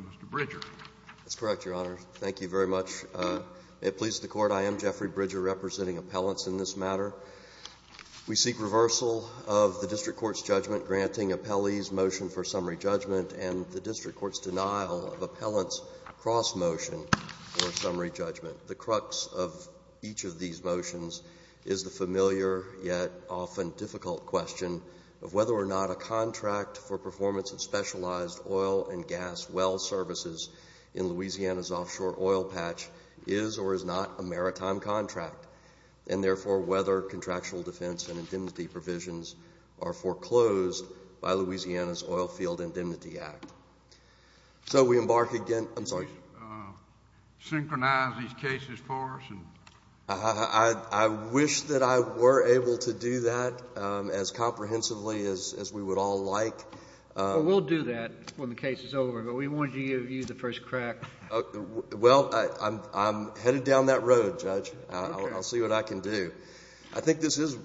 Mr. Bridger. That's correct, Your Honor. Thank you very much. It pleases the Court. I am Jeffrey Bridger, representing appellants in this matter. We seek reversal of the district court's judgment granting appellee's motion for summary judgment and the district court's denial of appellant's cross-motion for summary judgment. The crux of each of these motions is the familiar yet often difficult question of whether or not a contract for performance of specialized oil and gas well services in Louisiana's offshore oil patch is or is not a maritime contract, and therefore whether contractual defense and indemnity provisions are foreclosed by Louisiana's Oil Field Indemnity Act. So we embark again. I wish that I were able to do that as comprehensively as we would all like. Well, we'll do that when the case is over, but we wanted to give you the first crack. Well, I'm headed down that road, Judge. I'll see what I can do. I think this is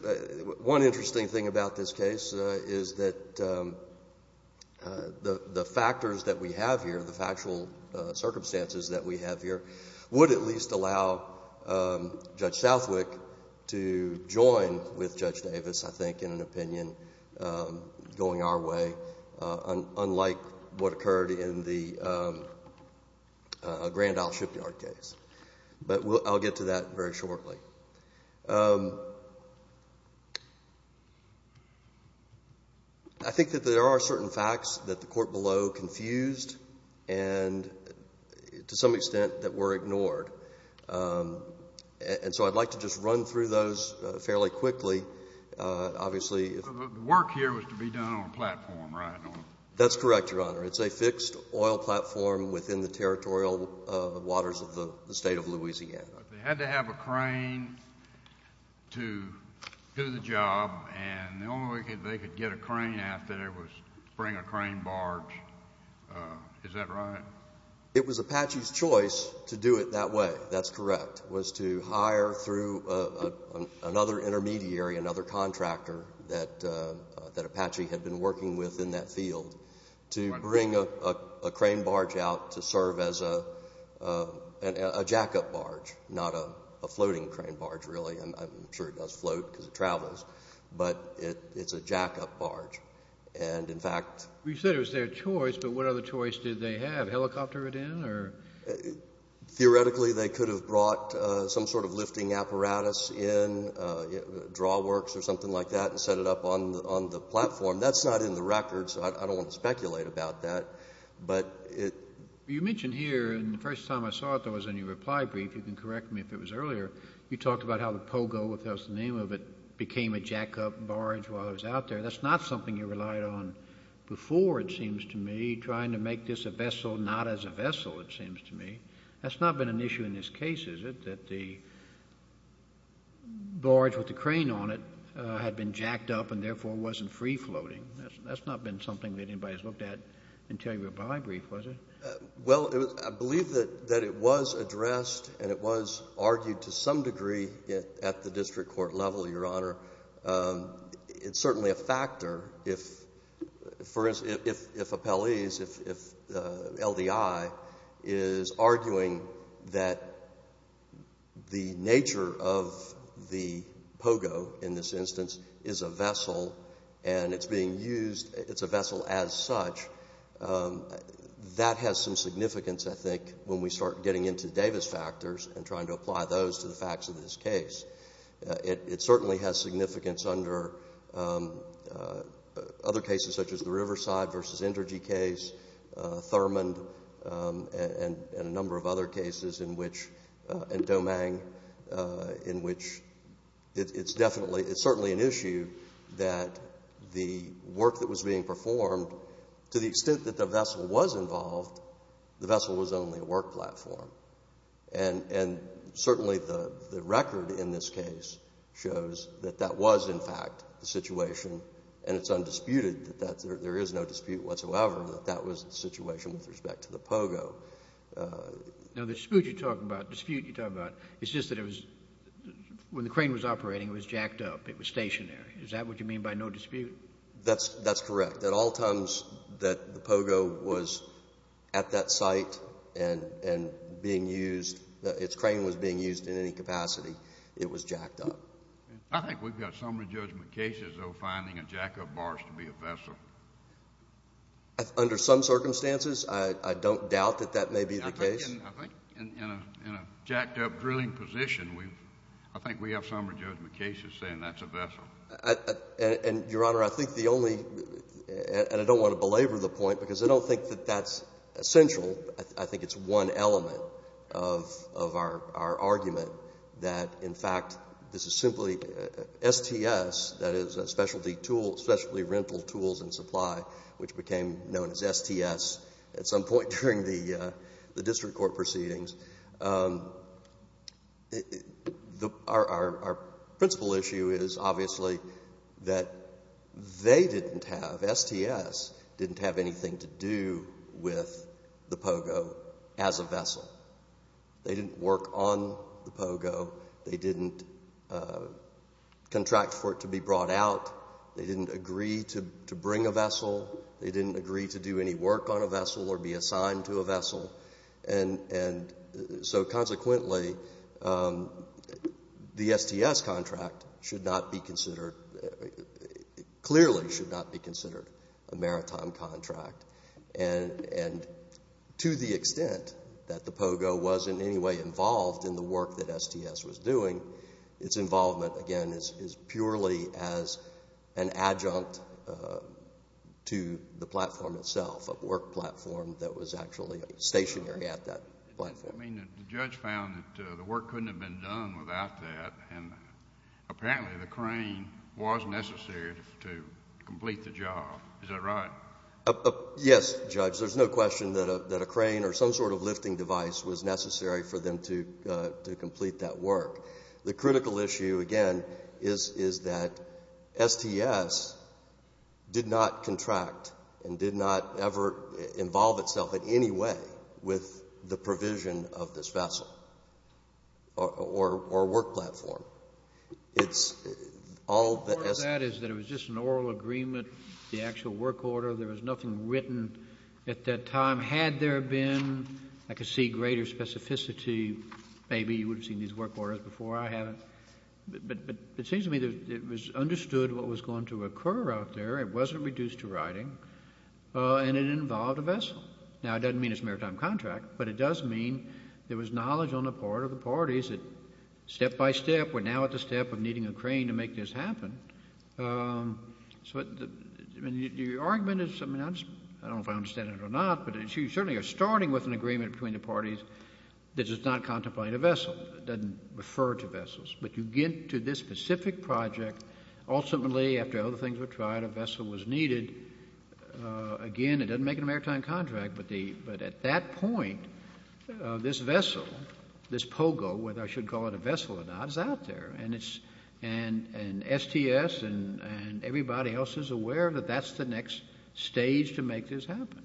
one interesting thing about this case is that the factors that we have here, the factual circumstances that we have here, would at least allow Judge Southwick to join with Judge Davis, I think, in an opinion going our way, unlike what occurred in the Grand Court. And I'll get to that very shortly. I think that there are certain facts that the court below confused and, to some extent, that were ignored. And so I'd like to just run through those fairly quickly. Obviously, if the work here was to be done on a platform, right? That's correct, Your Honor. It's a fixed oil platform within the territorial waters of the state of Louisiana. They had to have a crane to do the job, and the only way they could get a crane out there was bring a crane barge. Is that right? It was Apache's choice to do it that way. That's correct. It was to hire through another intermediary, another contractor that Apache had been working with in that field, to bring a crane barge out to serve as a jack-up barge, not a floating crane barge, really. I'm sure it does float because it travels, but it's a jack-up barge. And, in fact... You said it was their choice, but what other choice did they have? Helicopter it in? Theoretically, they could have brought some sort of lifting apparatus in, drawworks or something like that, and set it up on the platform. That's not in the records, so I don't want to speculate about that, but it... You mentioned here, and the first time I saw it, there was a new reply brief. You can correct me if it was earlier. You talked about how the Pogo, whatever the name of it, became a jack-up barge while it was out there. That's not something you relied on before, it seems to me, trying to make this a vessel not as a vessel, it seems to me. That's not been an issue in this case, is it, that the barge with the crane on it had been jacked up and, therefore, wasn't free-floating. That's not been something that anybody's looked at until your reply brief, was it? Well, I believe that it was addressed and it was argued to some degree at the district court level, Your Honor. It's certainly a factor if, for instance, if Appellees, if LDI is arguing that the nature of the Pogo, in this instance, is a vessel and it's being used, it's a vessel as such, that has some significance, I think, when we start getting into Davis factors and trying to apply those to the facts of this case. It certainly has significance under other cases, such as the Riverside v. Intergy case, Thurmond, and a number of other cases, and Domingue, in which it's definitely, it's certainly an issue that the work that was being performed, to the extent that the platform, and certainly the record in this case shows that that was, in fact, the situation, and it's undisputed that there is no dispute whatsoever that that was the situation with respect to the Pogo. Now, the dispute you're talking about, dispute you're talking about, it's just that it was, when the crane was operating, it was jacked up, it was stationary. Is that what you mean by no dispute? That's correct. At all times that the Pogo was at that and being used, its crane was being used in any capacity, it was jacked up. I think we've got summary judgment cases, though, finding a jack-up barge to be a vessel. Under some circumstances, I don't doubt that that may be the case. I think in a jacked-up drilling position, I think we have summary judgment cases saying that's a vessel. And, Your Honor, I think the only, and I don't want to belabor the point, because I don't think that that's essential. I think it's one element of our argument that, in fact, this is simply STS, that is a specialty tool, specialty rental tools and supply, which became known as STS at some point during the district court proceedings. Our principal issue is obviously that they didn't have, STS didn't have anything to do with the Pogo as a vessel. They didn't work on the Pogo. They didn't contract for it to be brought out. They didn't agree to bring a vessel. They didn't agree to do any work on a vessel or be assigned to a vessel. And so, consequently, the STS contract should not be considered, clearly should not be considered a maritime contract. And to the extent that the Pogo was in any way involved in the work that STS was doing, its involvement, again, is purely as an adjunct to the platform itself, a work platform that was actually stationary at that platform. I mean, the judge found that the work couldn't have been done without that, and apparently the crane was necessary to complete the job. Is that right? Yes, Judge. There's no question that a crane or some sort of lifting device was necessary for them to complete that work. The critical issue, again, is that STS did not contract and did not ever involve itself in any way with the provision of this vessel or work platform. Part of that is that it was just an oral agreement, the actual work order. There was nothing written at that time. Had there been, I could see greater specificity. Maybe you would have seen these work orders before I haven't. But it seems to me that it was understood what was going to involve the vessel. Now, it doesn't mean it's a maritime contract, but it does mean there was knowledge on the part of the parties that, step by step, we're now at the step of needing a crane to make this happen. So your argument is, I don't know if I understand it or not, but you certainly are starting with an agreement between the parties that it's not contemplating a vessel. It doesn't refer to vessels. But you get to this specific project. Ultimately, after all the things were needed, again, it doesn't make it a maritime contract. But at that point, this vessel, this pogo, whether I should call it a vessel or not, is out there. And STS and everybody else is aware that that's the next stage to make this happen.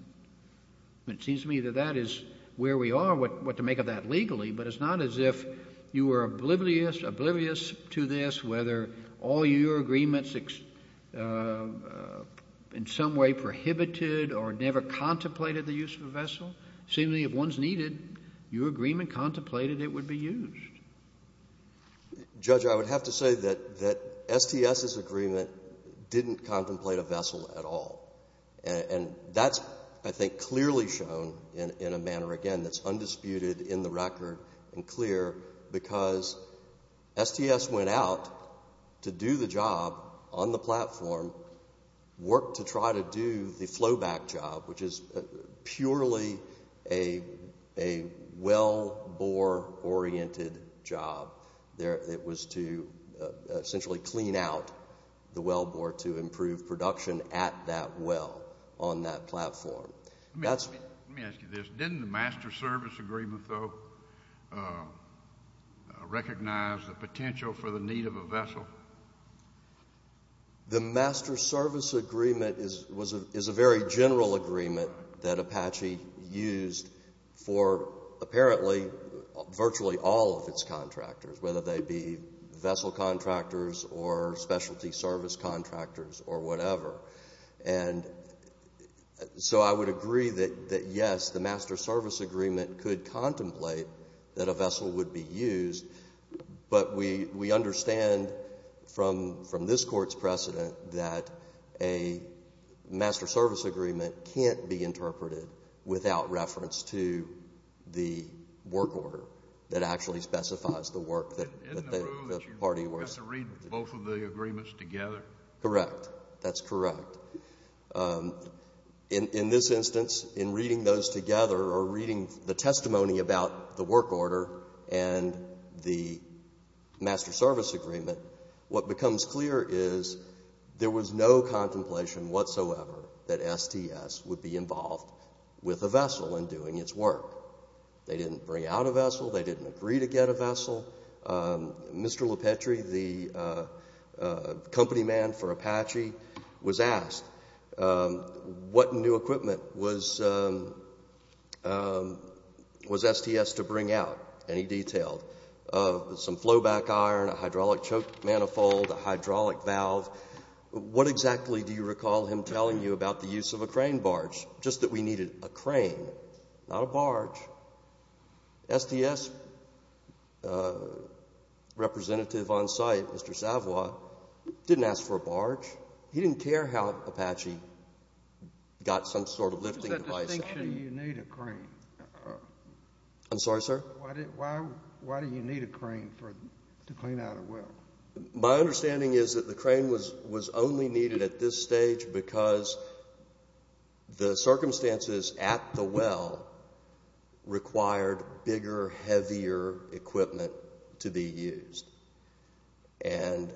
It seems to me that that is where we are, what to make of that legally. But it's not as if you were oblivious to this, whether all your agreements in some way prohibited or never contemplated the use of a vessel. Seemingly, if one's needed, your agreement contemplated it would be used. Judge, I would have to say that STS's agreement didn't contemplate a vessel at all. And that's, I think, clearly shown in a manner, again, that's undisputed in the record and clear, because STS went out to do the job on the platform, worked to try to do the flowback job, which is purely a wellbore-oriented job. It was to essentially clean out the wellbore to improve production at that well on that platform. Let me ask you this. Didn't the Master Service Agreement, though, recognize the potential for the need of a vessel? The Master Service Agreement is a very general agreement that Apache used for, apparently, virtually all of its contractors, whether they be vessel contractors or specialty service or whatever. And so I would agree that, yes, the Master Service Agreement could contemplate that a vessel would be used. But we understand from this Court's precedent that a Master Service Agreement can't be interpreted without reference to the work order that actually specifies the work order. Correct. That's correct. In this instance, in reading those together or reading the testimony about the work order and the Master Service Agreement, what becomes clear is there was no contemplation whatsoever that STS would be involved with a vessel in doing its work. They didn't bring out a vessel. They didn't agree to get a vessel. Mr. Lopetri, the company man for Apache, was asked what new equipment was STS to bring out. And he detailed some flowback iron, a hydraulic choke manifold, a hydraulic valve. What exactly do you recall him telling you about the use of a crane barge? Just that we needed a crane, not a barge. STS representative on site, Mr. Savoie, didn't ask for a barge. He didn't care how Apache got some sort of lifting device out. What's that distinction, you need a crane? I'm sorry, sir? Why do you need a crane to clean out a well? My understanding is that the crane was only needed at this stage because the circumstances at the well required bigger, heavier equipment to be used. And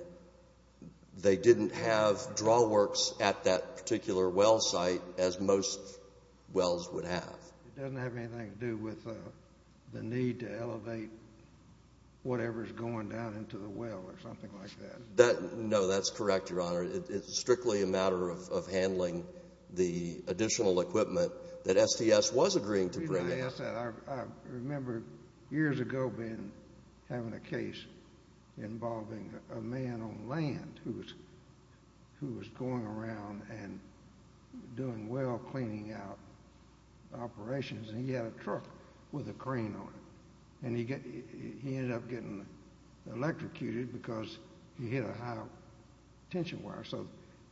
they didn't have drawworks at that particular well site as most wells would have. It doesn't have anything to do with the need to elevate whatever's going down into the well or something like that. No, that's correct, Your Honor. It's strictly a matter of handling the additional equipment that STS was agreeing to bring out. I remember years ago having a case involving a man on land who was going around and doing well cleaning out operations. And he had a truck with a crane on it. And he ended up getting electrocuted because he hit a high tension wire. So,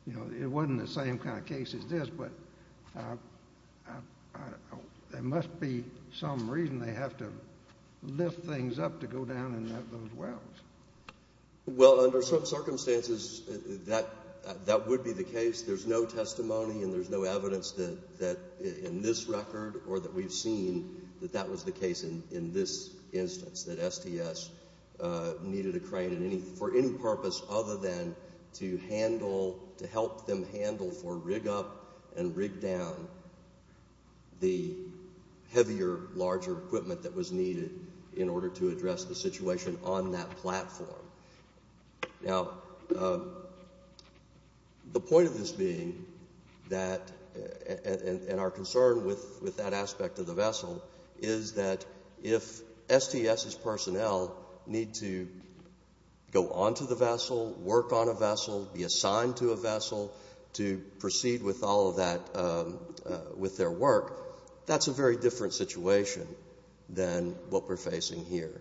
you know, it wasn't the same kind of case as this, but there must be some reason they have to lift things up to go down in those wells. Well, under certain circumstances, that would be the case. There's no testimony and there's no evidence that in this record or that we've seen that that was the case in this instance, that STS needed a crane for any purpose other than to help them handle for rig up and rig down the heavier, larger equipment that was needed in order to address the situation on that platform. Now, the point of this being that and our concern with that aspect of the vessel is that if STS's personnel need to go onto the vessel, work on a vessel, be assigned to a vessel to proceed with all of that, with their work, that's a very different situation than what we're facing here,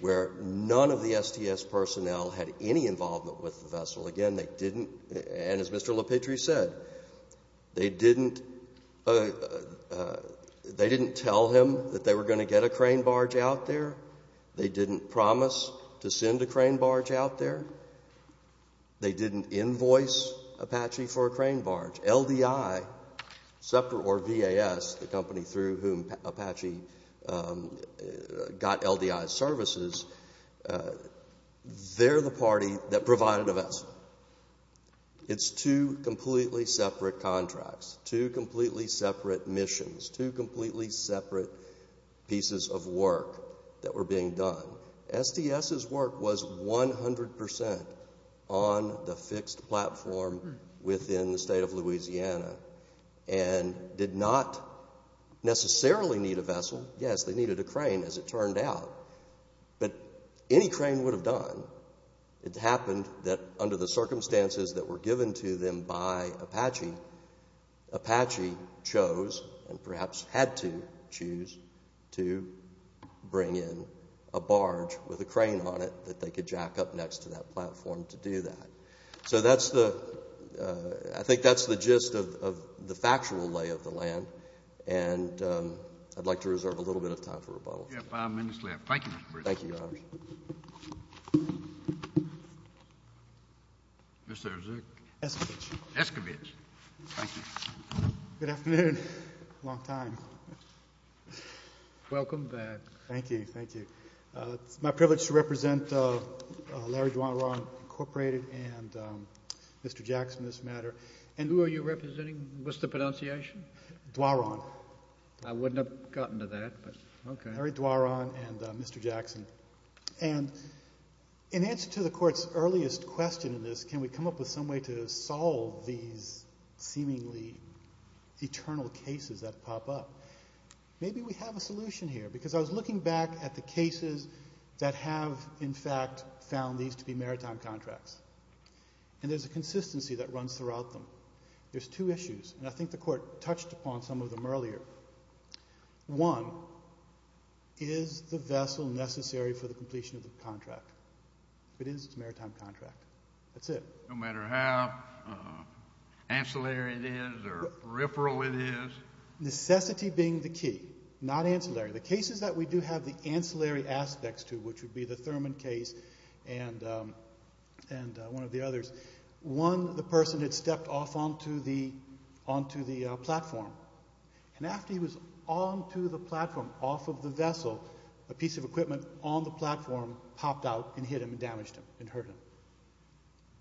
where none of the STS personnel had any involvement with the vessel. Again, they didn't. And as Mr. LaPetrie said, they didn't tell him that they were going to get a crane barge out there. They didn't promise to send a crane barge out there. They didn't invoice Apache for a crane barge. LDI, SEPTA or VAS, the company through whom Apache got LDI's services, they're the party that provided a vessel. It's two completely separate contracts, two completely separate missions, two completely separate pieces of work that were being done. STS's work was 100% on the fixed platform within the state of Louisiana and did not necessarily need a vessel. Yes, they needed a crane as it turned out, but any crane would have done. It happened that under the circumstances that were given to them by Apache, Apache chose and perhaps had to choose to bring in a barge with a crane on it that they could jack up next to that platform to do that. So that's the, I think that's the gist of the factual lay of the land, and I'd like to reserve a little bit of time for rebuttal. You have five minutes left. Thank you, Mr. Pritzker. Thank you, Your Honor. Mr. Escovedge. Escovedge. Thank you. Good afternoon. Long time. Welcome back. Thank you. Thank you. It's my privilege to represent Larry Duaron, Incorporated, and Mr. Jackson in this matter. And who are you representing? What's the pronunciation? Duaron. I wouldn't have gotten to that, but okay. Larry Duaron and Mr. Jackson. And in answer to the court's earliest question in this, can we come up with some way to solve these seemingly eternal cases that pop up? Maybe we have a solution here, because I was looking back at the cases that have, in fact, found these to be maritime contracts. And there's a consistency that runs throughout them. There's two issues, and I think the court touched upon some of them earlier. One, is the vessel necessary for the completion of the contract? If it is, it's a maritime contract. That's it. No matter how ancillary it is or peripheral it is? Necessity being the key, not ancillary. The cases that we do have the ancillary aspects to, which would be the Thurman case and one of the others. One, the person had stepped off onto the platform. And after he was onto the platform, off of the vessel, a piece of equipment on the platform popped out and hit him and damaged him and hurt him.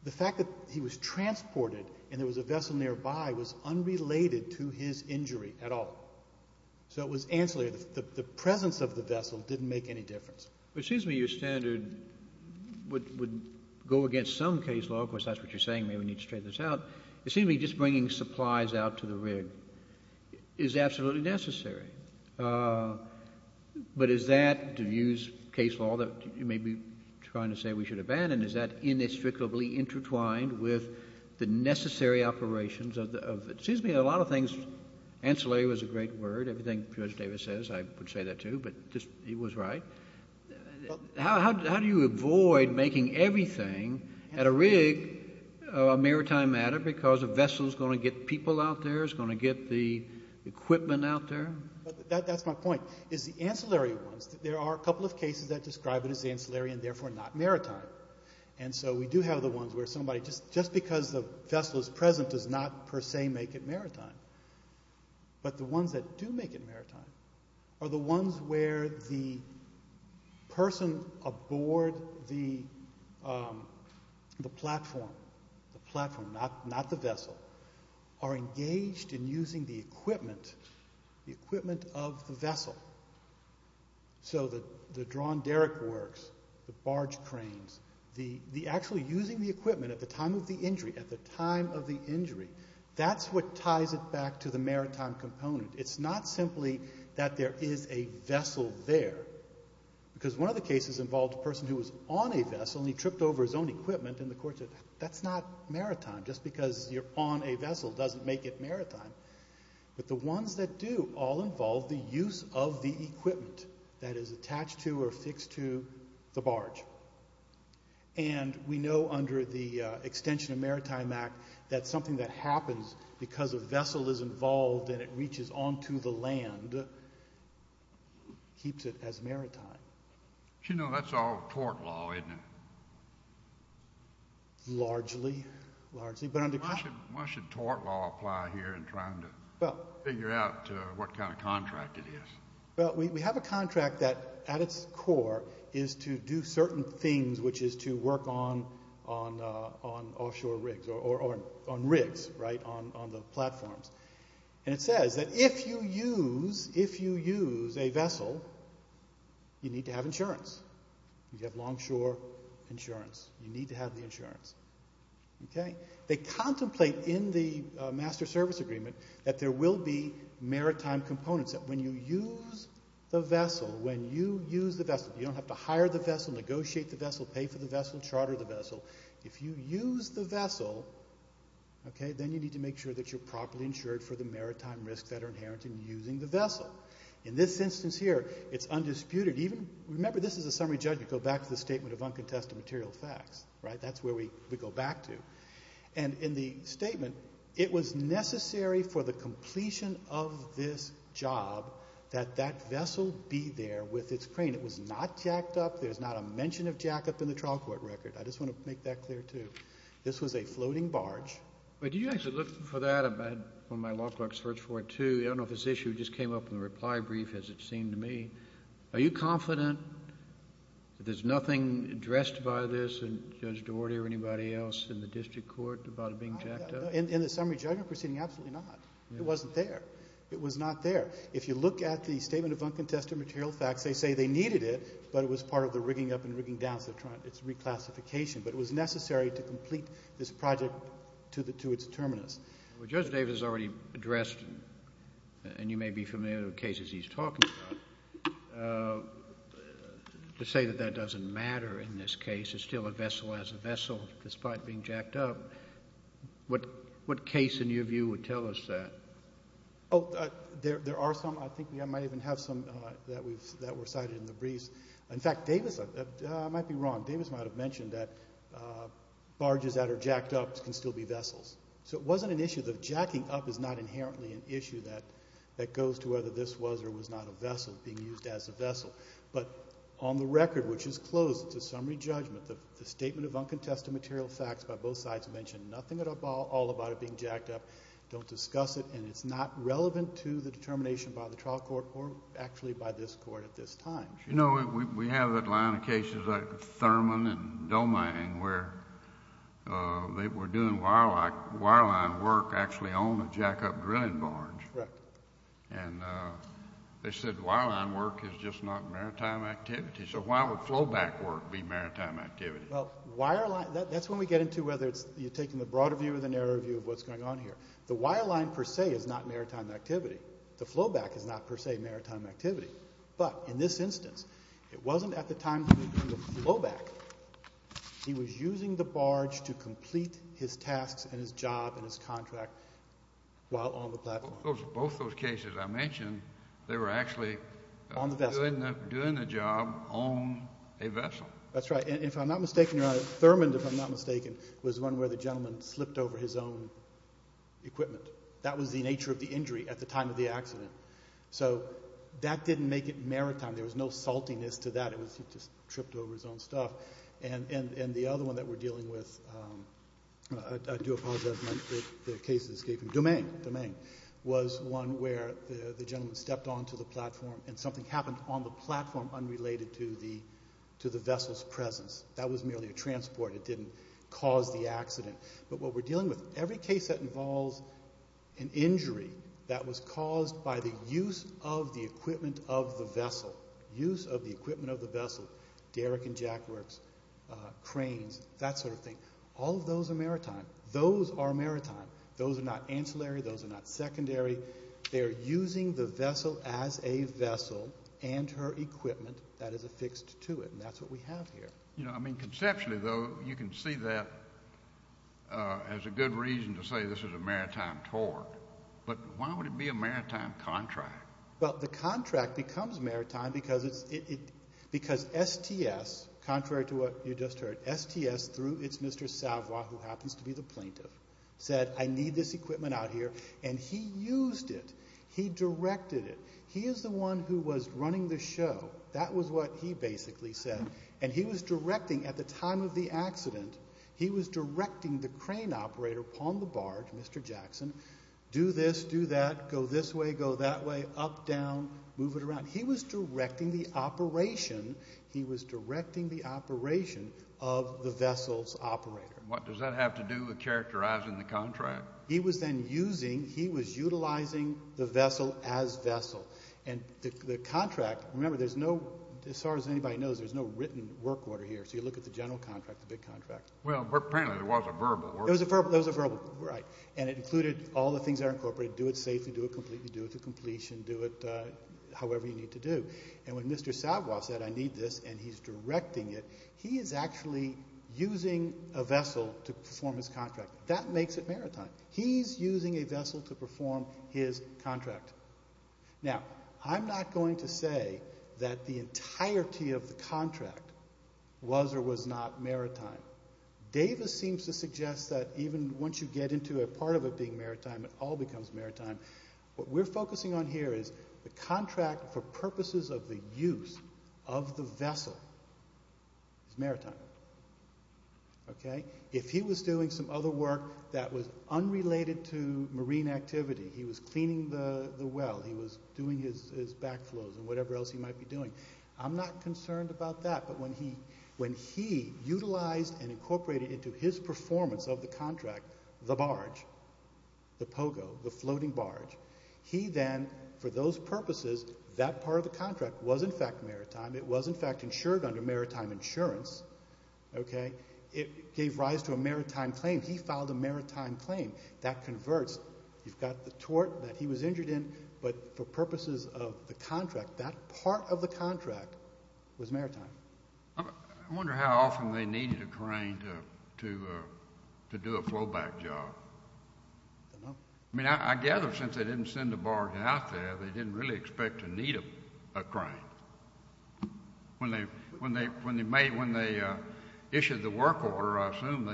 The fact that he was transported and there was a vessel nearby was unrelated to his injury at all. So it was ancillary. The presence of the vessel didn't make any difference. It seems to me your standard would go against some case law. Of course, that's what you're saying. Maybe we need to straighten this out. It seems to me just bringing supplies out to the rig is absolutely necessary. But is that, to use case law that you may be trying to say we should abandon, is that inextricably intertwined with the necessary operations? It seems to me a lot of things, ancillary was a great word, everything George Davis says, I would say that too, but he was right. How do you avoid making everything at a rig a maritime matter because a vessel is going to get people out there, is going to get the equipment out there? That's my point, is the ancillary ones. There are a couple of cases that describe it as ancillary and therefore not maritime. And so we do have the ones where somebody, just because the vessel is present does not per se make it maritime. But the ones that do make it maritime are the ones where the person aboard the platform, the platform, not the vessel, are engaged in using the equipment, the equipment of the vessel. So the drawn derrick works, the barge cranes, the actually using the equipment at the time of the injury, at the time of the injury, that's what ties it back to the maritime component. It's not simply that there is a vessel there. Because one of the cases involved a person who was on a vessel and he tripped over his own equipment and the court said, that's not maritime, just because you're on a vessel doesn't make it maritime. But the ones that do all involve the use of the equipment that is attached to or fixed to the barge. And we know under the extension of Maritime Act that something that happens because a vessel is involved and it reaches onto the land keeps it as maritime. You know, that's all tort law, isn't it? Largely, largely. Why should tort law apply here in trying to figure out what kind of contract it is? Well, we have a contract that at its core is to do certain things, which is to work on offshore rigs or on rigs, right, on the platforms. And it says that if you use a vessel, you need to have insurance. You have longshore insurance. You need to have the insurance. Okay? They contemplate in the Master Service Agreement that there will be maritime components that when you use the vessel, when you use the vessel, you don't have to hire the vessel, negotiate the vessel, pay for the vessel, charter the vessel. If you use the vessel, okay, then you need to make sure that you're properly insured for the maritime risks that are inherent in using the vessel. In this instance here, it's undisputed. Even, remember, this is a summary judgment. Go back to the statement of uncontested material facts, right? That's where we go back to. And in the statement, it was necessary for the completion of this job that that vessel be there with its crane. It was not jacked up. There's not a mention of jack up in the trial court record. I just want to make that clear, too. This was a floating barge. But do you actually look for that? I had one of my law clerks search for it, too. I don't know if this issue just came up in the reply brief, as it seemed to me. Are you confident that there's nothing addressed by this and Judge Daugherty or anybody else in the district court about it being jacked up? In the summary judgment proceeding, absolutely not. It wasn't there. It was not there. If you look at the statement of uncontested material facts, they say they needed it, but it was part of the rigging up and rigging down, so it's reclassification. But it was necessary to complete this project to its terminus. Well, Judge Davis already addressed, and you may be familiar with cases he's talking about, to say that that doesn't matter in this case. It's still a vessel as a vessel, despite being jacked up. What case, in your view, would tell us that? Oh, there are some. I think we might even have some that were cited in the briefs. In fact, Davis, I might be wrong. Davis might have mentioned that barges that are jacked up can still be vessels. That goes to whether this was or was not a vessel being used as a vessel. But on the record, which is closed to summary judgment, the statement of uncontested material facts by both sides mentioned nothing at all about it being jacked up. Don't discuss it. And it's not relevant to the determination by the trial court or actually by this court at this time. You know, we have a line of cases like Thurman and Doming where they were doing wireline work actually on the jack-up drilling barge. And they said wireline work is just not maritime activity. So why would flowback work be maritime activity? Well, that's when we get into whether you're taking the broader view or the narrower view of what's going on here. The wireline, per se, is not maritime activity. The flowback is not, per se, maritime activity. But in this instance, it wasn't at the time that we were doing the flowback. He was using the barge to complete his tasks and his job and his contract while on the platform. Both those cases I mentioned, they were actually doing the job on a vessel. That's right. And if I'm not mistaken, Your Honor, Thurman, if I'm not mistaken, was one where the gentleman slipped over his own equipment. That was the nature of the injury at the time of the accident. So that didn't make it maritime. There was no saltiness to that. It was he just tripped over his own stuff. And the other one that we're dealing with, I do apologize, the case of the escape from Domain, Domain was one where the gentleman stepped onto the platform and something happened on the platform unrelated to the vessel's presence. That was merely a transport. It didn't cause the accident. But what we're dealing with, every case that involves an injury that was caused by the use of the equipment of the vessel, use of the equipment of the vessel, derrick and jackworks, cranes, that sort of thing, all of those are maritime. Those are maritime. Those are not ancillary. Those are not secondary. They are using the vessel as a vessel and her equipment that is affixed to it. And that's what we have here. You know, I mean, conceptually, though, you can see that as a good reason to say this is a maritime tort. But why would it be a maritime contract? Well, the contract becomes maritime because it's, because STS, contrary to what you just heard, STS, through, it's Mr. Savoy, who happens to be the plaintiff, said, I need this equipment out here. And he used it. He directed it. He is the one who was running the show. That was what he basically said. And he was directing, at the time of the accident, he was directing the crane operator upon the barge, Mr. Jackson, do this, do that, go this way, go that way, up, down, move it around. He was directing the operation. of the vessel's operator. What does that have to do with characterizing the contract? He was then using, he was utilizing the vessel as vessel. And the contract, remember, there's no, as far as anybody knows, there's no written work order here. So you look at the general contract, the big contract. Well, apparently there was a verbal work order. There was a verbal, right. And it included all the things that are incorporated, do it safely, do it completely, do it to completion, do it however you need to do. And when Mr. Savoy said, I need this, and he's directing it, he is actually using a vessel to perform his contract. That makes it maritime. He's using a vessel to perform his contract. Now, I'm not going to say that the entirety of the contract was or was not maritime. Davis seems to suggest that even once you get into a part of it being maritime, it all becomes maritime. What we're focusing on here is the contract for purposes of the use of the vessel is maritime, okay. If he was doing some other work that was unrelated to marine activity, he was cleaning the well, he was doing his back flows and whatever else he might be doing, I'm not concerned about that. But when he utilized and incorporated into his performance of the contract, the barge, the pogo, the floating barge, he then, for those purposes, that part of the contract was, in fact, maritime. It was, in fact, insured under maritime insurance, okay. It gave rise to a maritime claim. He filed a maritime claim. That converts. You've got the tort that he was injured in, but for purposes of the contract, that part of the contract was maritime. I wonder how often they needed a crane to do a flow back job. I don't know. I mean, I gather since they didn't send the barge out there, they didn't really expect to need a crane. When they issued the work order, I assume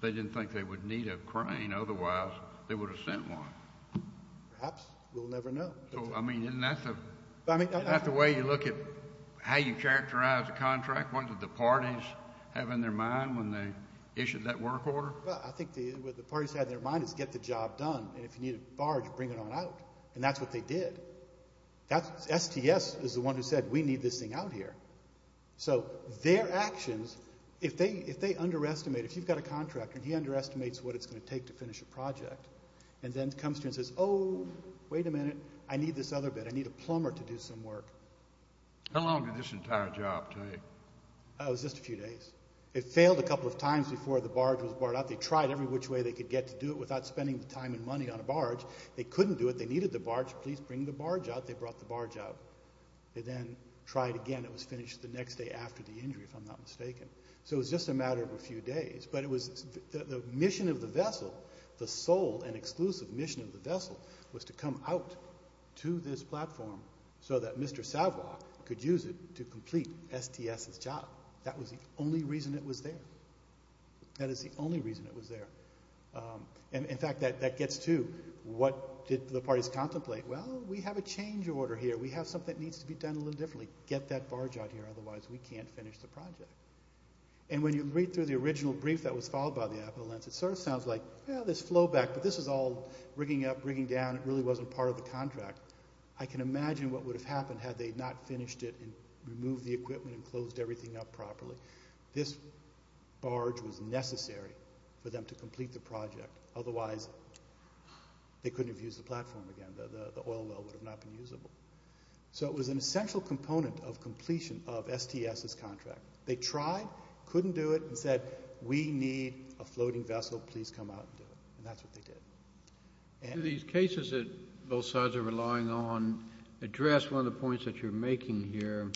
they didn't think they would need a crane. Otherwise, they would have sent one. Perhaps. We'll never know. I mean, isn't that the way you look at how you characterize a contract? What did the parties have in their mind when they issued that work order? Well, I think what the parties had in their mind is get the job done. And if you need a barge, bring it on out. And that's what they did. STS is the one who said, we need this thing out here. So their actions, if they underestimate, if you've got a contractor and he underestimates what it's going to take to finish a project, and then comes to you and says, oh, wait a minute. I need this other bit. I need a plumber to do some work. How long did this entire job take? It was just a few days. It failed a couple of times before the barge was brought out. They tried every which way they could get to do it without spending the time and money on a barge. They couldn't do it. They needed the barge. Please bring the barge out. They brought the barge out. They then tried again. It was finished the next day after the injury, if I'm not mistaken. So it was just a matter of a few days. But it was the mission of the vessel, the sole and exclusive mission of the vessel, was to come out to this platform so that Mr. Savoy could use it to complete STS's job. That was the only reason it was there. That is the only reason it was there. And in fact, that gets to what did the parties contemplate? Well, we have a change order here. We have something that needs to be done a little differently. Get that barge out here. Otherwise, we can't finish the project. And when you read through the original brief that was filed by the Appalachians, it sort of sounds like, well, there's flowback. But this is all rigging up, rigging down. It really wasn't part of the contract. I can imagine what would have happened had they not finished it and removed the equipment and closed everything up properly. This barge was necessary for them to complete the project. Otherwise, they couldn't have used the platform again. The oil well would have not been usable. So it was an essential component of completion of STS's contract. They tried, couldn't do it, and said, we need a floating vessel. Please come out and do it. And that's what they did. And these cases that both sides are relying on address one of the points that you're making here,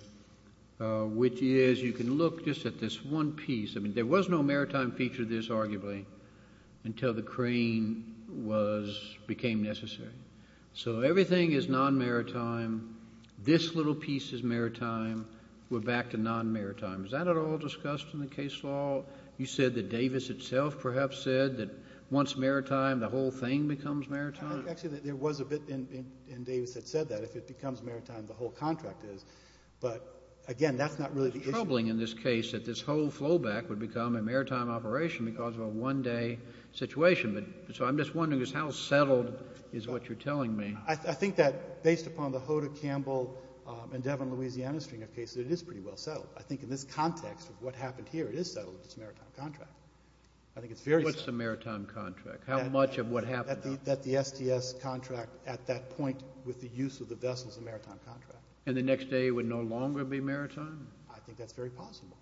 which is you can look just at this one piece. I mean, there was no maritime feature of this, arguably, until the crane became necessary. So everything is non-maritime. This little piece is maritime. We're back to non-maritime. Is that at all discussed in the case law? You said that Davis itself perhaps said that once maritime, the whole thing becomes maritime? Actually, there was a bit in Davis that said that. If it becomes maritime, the whole contract is. But again, that's not really the issue. It's troubling in this case that this whole flowback would become a maritime operation because of a one-day situation. But so I'm just wondering is how settled is what you're telling me? I think that based upon the Hoda Campbell and Devin Louisiana string of cases, it is pretty well settled. I think in this context of what happened here, it is settled. It's a maritime contract. I think it's very settled. What's a maritime contract? How much of what happened? That the STS contract at that point with the use of the vessel is a maritime contract. And the next day would no longer be maritime? I think that's very possible.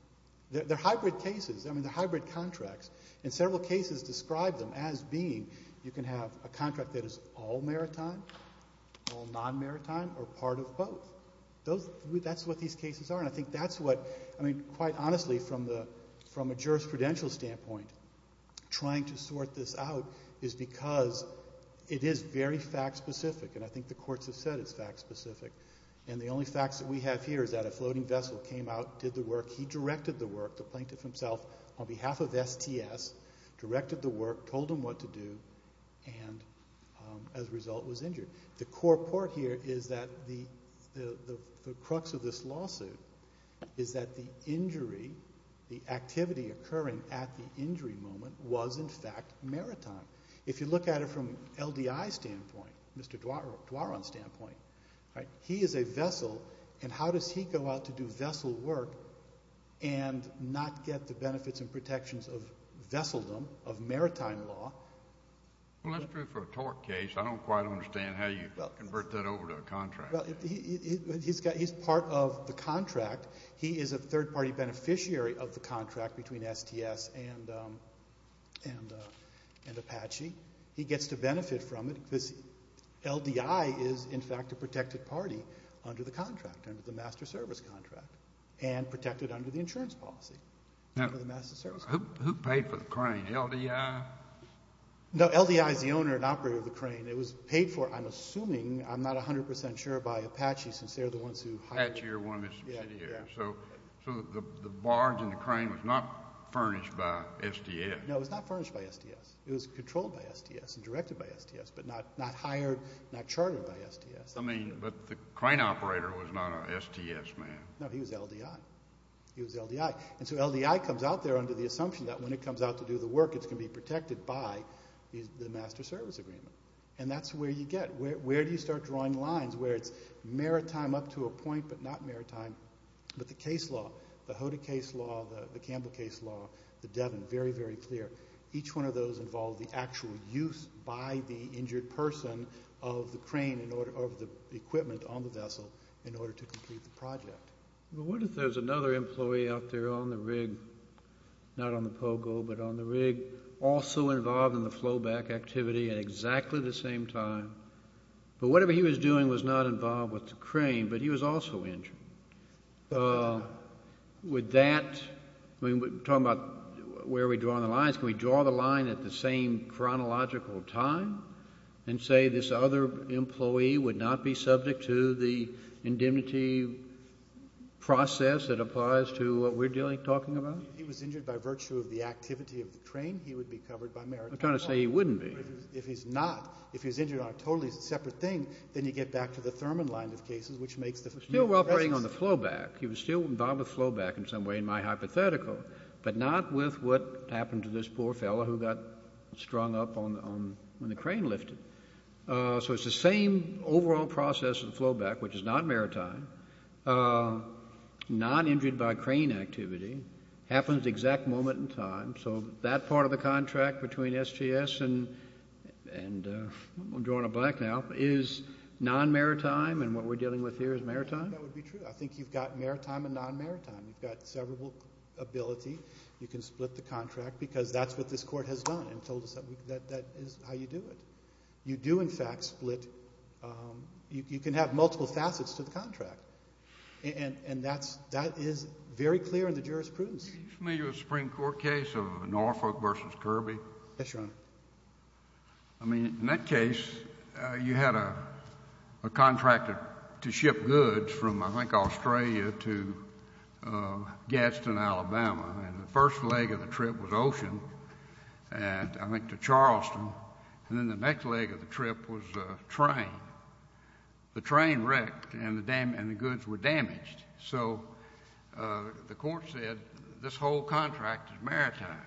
They're hybrid cases. I mean, they're hybrid contracts. And several cases describe them as being, you can have a contract that is all maritime, all non-maritime, or part of both. That's what these cases are. And I think that's what, I mean, quite honestly, from a jurisprudential standpoint, trying to sort this out is because it is very fact-specific. And I think the courts have said it's fact-specific. And the only facts that we have here is that a floating vessel came out, did the work, he directed the work, the plaintiff himself, on behalf of STS, directed the work, told him what to do, and as a result was injured. The core part here is that the crux of this lawsuit is that the injury, the activity occurring at the injury moment was, in fact, maritime. If you look at it from LDI's standpoint, Mr. Duaron's standpoint, he is a vessel, and how does he go out to do vessel work and not get the benefits and protections of vesseldom, of maritime law? Well, that's true for a tort case. I don't quite understand how you convert that over to a contract. Well, he's part of the contract. He is a third-party beneficiary of the contract between STS and Apache. He gets to benefit from it. LDI is, in fact, a protected party under the contract, under the master service contract, and protected under the insurance policy. Who paid for the crane? LDI? No, LDI is the owner and operator of the crane. It was paid for, I'm assuming, I'm not 100% sure, by Apache since they're the ones who hired it. Apache are one of the subsidiaries, so the barge and the crane was not furnished by STS. No, it was not furnished by STS. It was controlled by STS and directed by STS, not hired, not chartered by STS. I mean, but the crane operator was not an STS man. No, he was LDI. He was LDI. And so LDI comes out there under the assumption that when it comes out to do the work, it's going to be protected by the master service agreement. And that's where you get, where do you start drawing lines where it's maritime up to a point, but not maritime, but the case law, the Hoda case law, the Campbell case law, the Devon, very, very clear. Each one of those involved the actual use by the injured person of the crane, in order of the equipment on the vessel in order to complete the project. But what if there's another employee out there on the rig, not on the Pogo, but on the rig, also involved in the flowback activity at exactly the same time, but whatever he was doing was not involved with the crane, but he was also injured. Would that, I mean, we're talking about where are we drawing the lines? Can we draw the line at the same chronological time and say this other employee would not be subject to the indemnity process that applies to what we're dealing, talking about? If he was injured by virtue of the activity of the train, he would be covered by maritime law. I'm trying to say he wouldn't be. If he's not, if he's injured on a totally separate thing, then you get back to the Thurman line of cases, which makes the... Still operating on the flowback. He was still involved with flowback in some way, in my hypothetical, but not with what happened to this poor fellow who got strung up when the crane lifted. So it's the same overall process of the flowback, which is non-maritime, non-injured by crane activity, happens exact moment in time. So that part of the contract between SGS and I'm drawing a blank now, is non-maritime and what we're dealing with here is maritime? That would be true. I think you've got maritime and non-maritime. You've got several ability. You can split the contract because that's what this court has done and told us that is how you do it. You do in fact split, you can have multiple facets to the contract and that is very clear in the jurisprudence. Are you familiar with Supreme Court case of Norfolk versus Kirby? Yes, Your Honor. I mean, in that case, you had a contractor to ship goods from, I think, Australia to Gadsden, Alabama and the first leg of the trip was ocean and I went to Charleston and then the next leg of the trip was a train. The train wrecked and the goods were damaged. So the court said this whole contract is maritime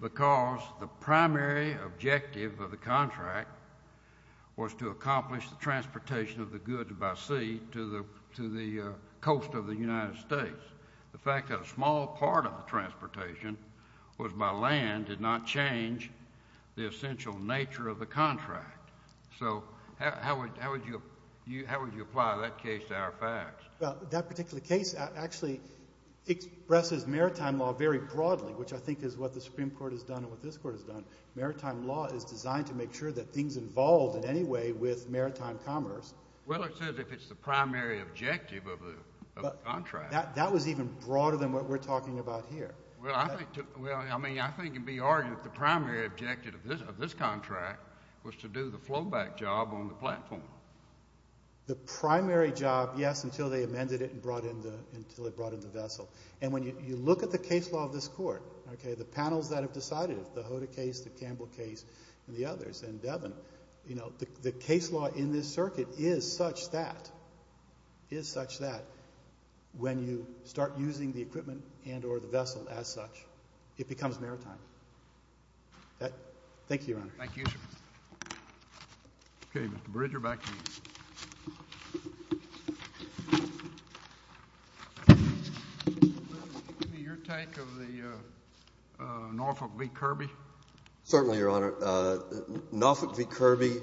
because the primary objective of the contract was to accomplish the transportation of the goods by sea to the coast of the United States. The fact that a small part of the transportation was by land did not change the essential nature of the contract. So how would you apply that case to our facts? That particular case actually expresses maritime law very broadly, which I think is what the Supreme Court has done and what this court has done. Maritime law is designed to make sure that things involved in any way with maritime commerce. Well, it says if it's the primary objective of the contract. That was even broader than what we're talking about here. Well, I mean, I think it'd be argued that the primary objective of this contract was to do the flowback job on the platform. The primary job, yes, until they amended it and brought in the vessel. And when you look at the case law of this court, okay, the panels that have decided it, the Hoda case, the Campbell case and the others and Devin, you know, the case law in this circuit is such that, is such that when you start using the equipment and or the vessel as such, it becomes maritime. Thank you, Your Honor. Thank you, Your Honor. Okay, Mr. Bridger, back to you. Give me your take of the Norfolk v. Kirby. Certainly, Your Honor. Norfolk v. Kirby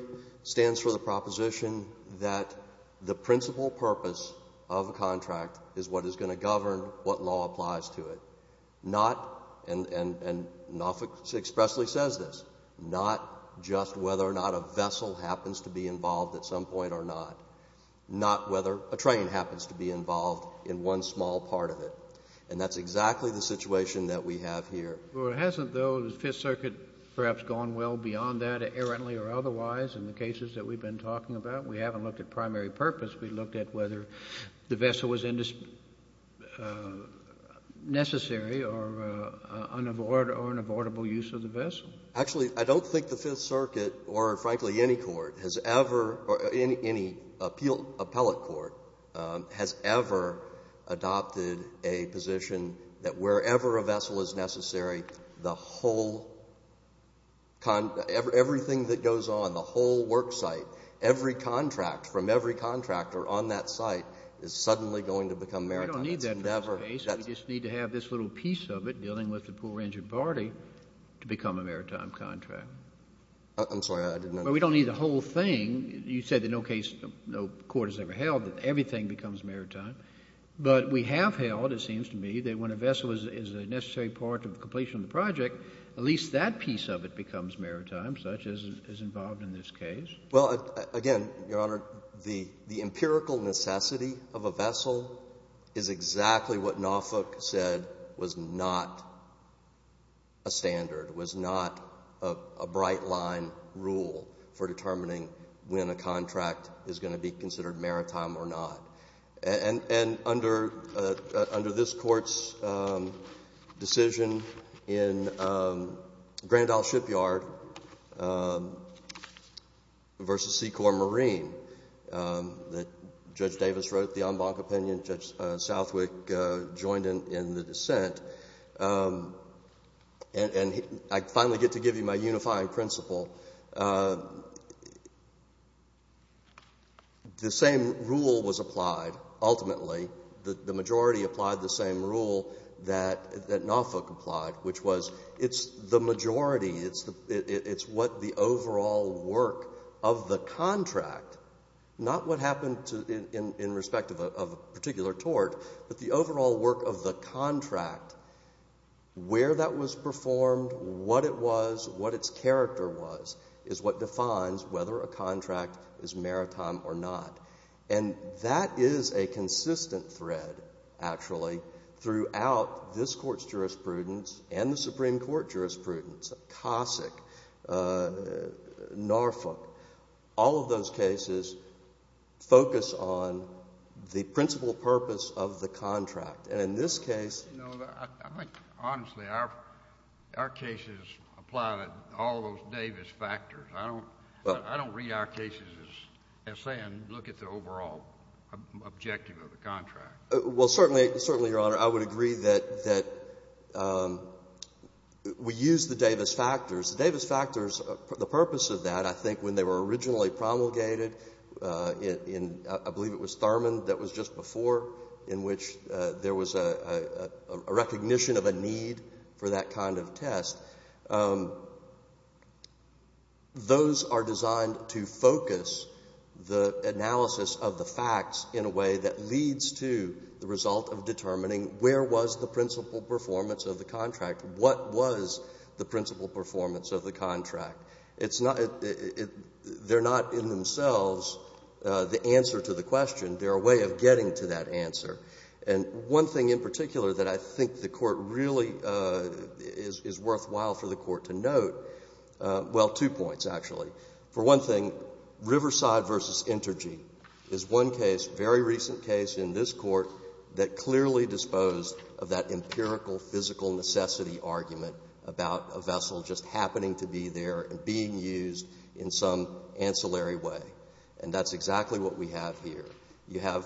stands for the proposition that the principal purpose of a contract is what is going to govern what law applies to it. Not, and Norfolk expressly says this, not just whether or not a vessel happens to be involved at some point or not, not whether a train happens to be involved in one small part of it. And that's exactly the situation that we have here. Well, it hasn't though, the Fifth Circuit, perhaps gone well beyond that errantly or otherwise in the cases that we've been talking about. We haven't looked at primary purpose. We looked at whether the vessel was necessary or unavoidable use of the vessel. Actually, I don't think the Fifth Circuit or frankly any court has ever, or any appellate court has ever adopted a position that wherever a vessel is necessary, the whole, everything that goes on, the whole worksite, every contract from every contractor on that site is suddenly going to become maritime. We don't need that for this case. We just need to have this little piece of it dealing with the poor injured party to become a maritime contract. I'm sorry, I didn't understand. Well, we don't need the whole thing. You said that no case, no court has ever held that everything becomes maritime. But we have held, it seems to me, that when a vessel is a necessary part of the completion of the project, at least that piece of it becomes maritime, such as is involved in this case. Well, again, Your Honor, the empirical necessity of a vessel is exactly what Naufook said was not a standard, was not a bright line rule for determining when a contract is going to be considered maritime or not. And under this Court's decision in Grand Isle Shipyard versus Seacorp Marine that Judge Davis wrote, the en banc opinion, Judge Southwick joined in the dissent, and I finally get to give you my unifying principle, the same rule was applied, ultimately. The majority applied the same rule that Naufook applied, which was it's the majority, it's what the overall work of the contract, not what happened in respect of a particular tort, but the overall work of the contract, where that was performed, what it was, what its character was, is what defines whether a contract is maritime or not. And that is a consistent thread, actually, throughout this Court's jurisprudence and the Supreme Court jurisprudence. Cossack, Naufook, all of those cases focus on the principal purpose of the contract. And in this case... No, I think, honestly, our cases apply to all those Davis factors. I don't read our cases as saying look at the overall objective of the contract. Well, certainly, Your Honor, I would agree that we use the Davis factors. The Davis factors, the purpose of that, I think when they were originally promulgated in, I believe it was Thurman that was just before, in which there was a recognition of a need for that kind of test. Those are designed to focus the analysis of the facts in a way that leads to the result of determining where was the principal performance of the contract? What was the principal performance of the contract? They're not in themselves the answer to the question. They're a way of getting to that answer. And one thing in particular that I think the Court really is worthwhile for the Court to note, well, two points, actually. For one thing, Riverside v. Intergy is one case, very recent case in this Court that clearly disposed of that empirical, physical necessity argument about a vessel just happening to be there and being used in some ancillary way. And that's exactly what we have here. You have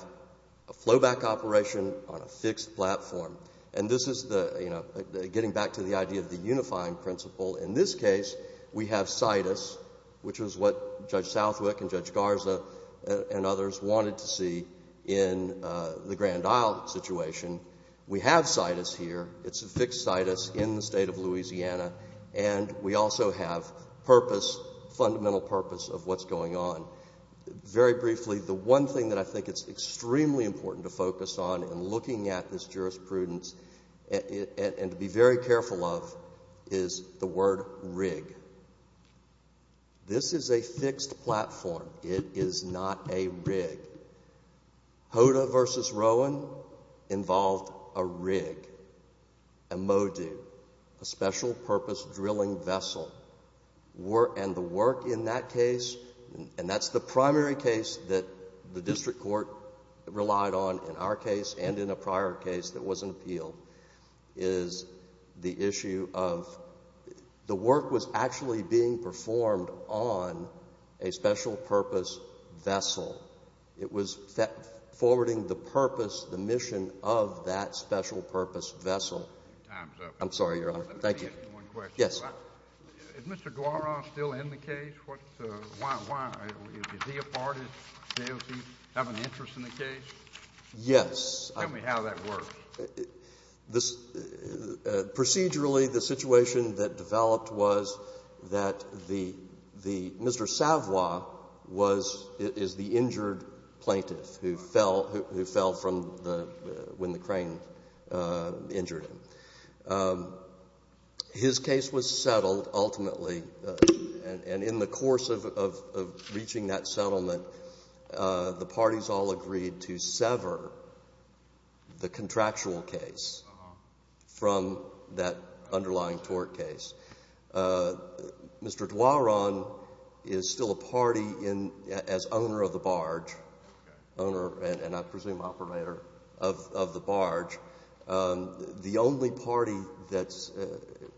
a flowback operation on a fixed platform. And this is the, you know, getting back to the idea of the unifying principle. In this case, we have situs, which was what Judge Southwick and Judge Garza and others wanted to see in the Grand Isle situation. We have situs here. It's a fixed situs in the state of Louisiana. And we also have purpose, fundamental purpose of what's going on. Very briefly, the one thing that I think it's extremely important to focus on in looking at this jurisprudence and to be very careful of is the word rig. This is a fixed platform. It is not a rig. Hoda v. Rowan involved a rig, a modu, a special-purpose drilling vessel. And the work in that case, and that's the primary case that the district court relied on in our case and in a prior case that wasn't appealed, is the issue of, the work was actually being performed on a special-purpose vessel. It was forwarding the purpose, the mission of that special-purpose vessel. Your time's up. I'm sorry, Your Honor. Let me ask you one question. Yes. Is Mr. Guara still in the case? Why? Is he a part of it? Does he have an interest in the case? Yes. Tell me how that works. Procedurally, the situation that developed was that Mr. Savoy is the injured plaintiff who fell when the crane injured him. His case was settled, ultimately, and in the course of reaching that settlement, the parties all agreed to sever the contractual case from that underlying tort case. Mr. Duaron is still a party as owner of the barge, owner and, I presume, operator of the barge. The only party that's...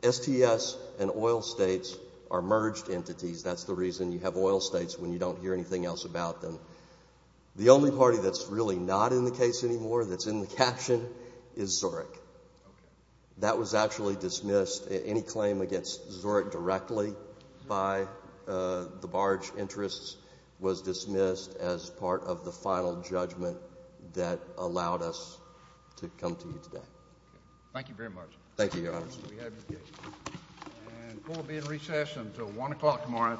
STS and oil states are merged entities. That's the reason you have oil states when you don't hear anything else about them. The only party that's really not in the case anymore, that's in the caption, is Zurich. That was actually dismissed. Any claim against Zurich directly by the barge interests was dismissed as part of the final judgment that allowed us to come to you today. Thank you very much. Thank you, Your Honor. And court will be in recess until one o'clock tomorrow afternoon.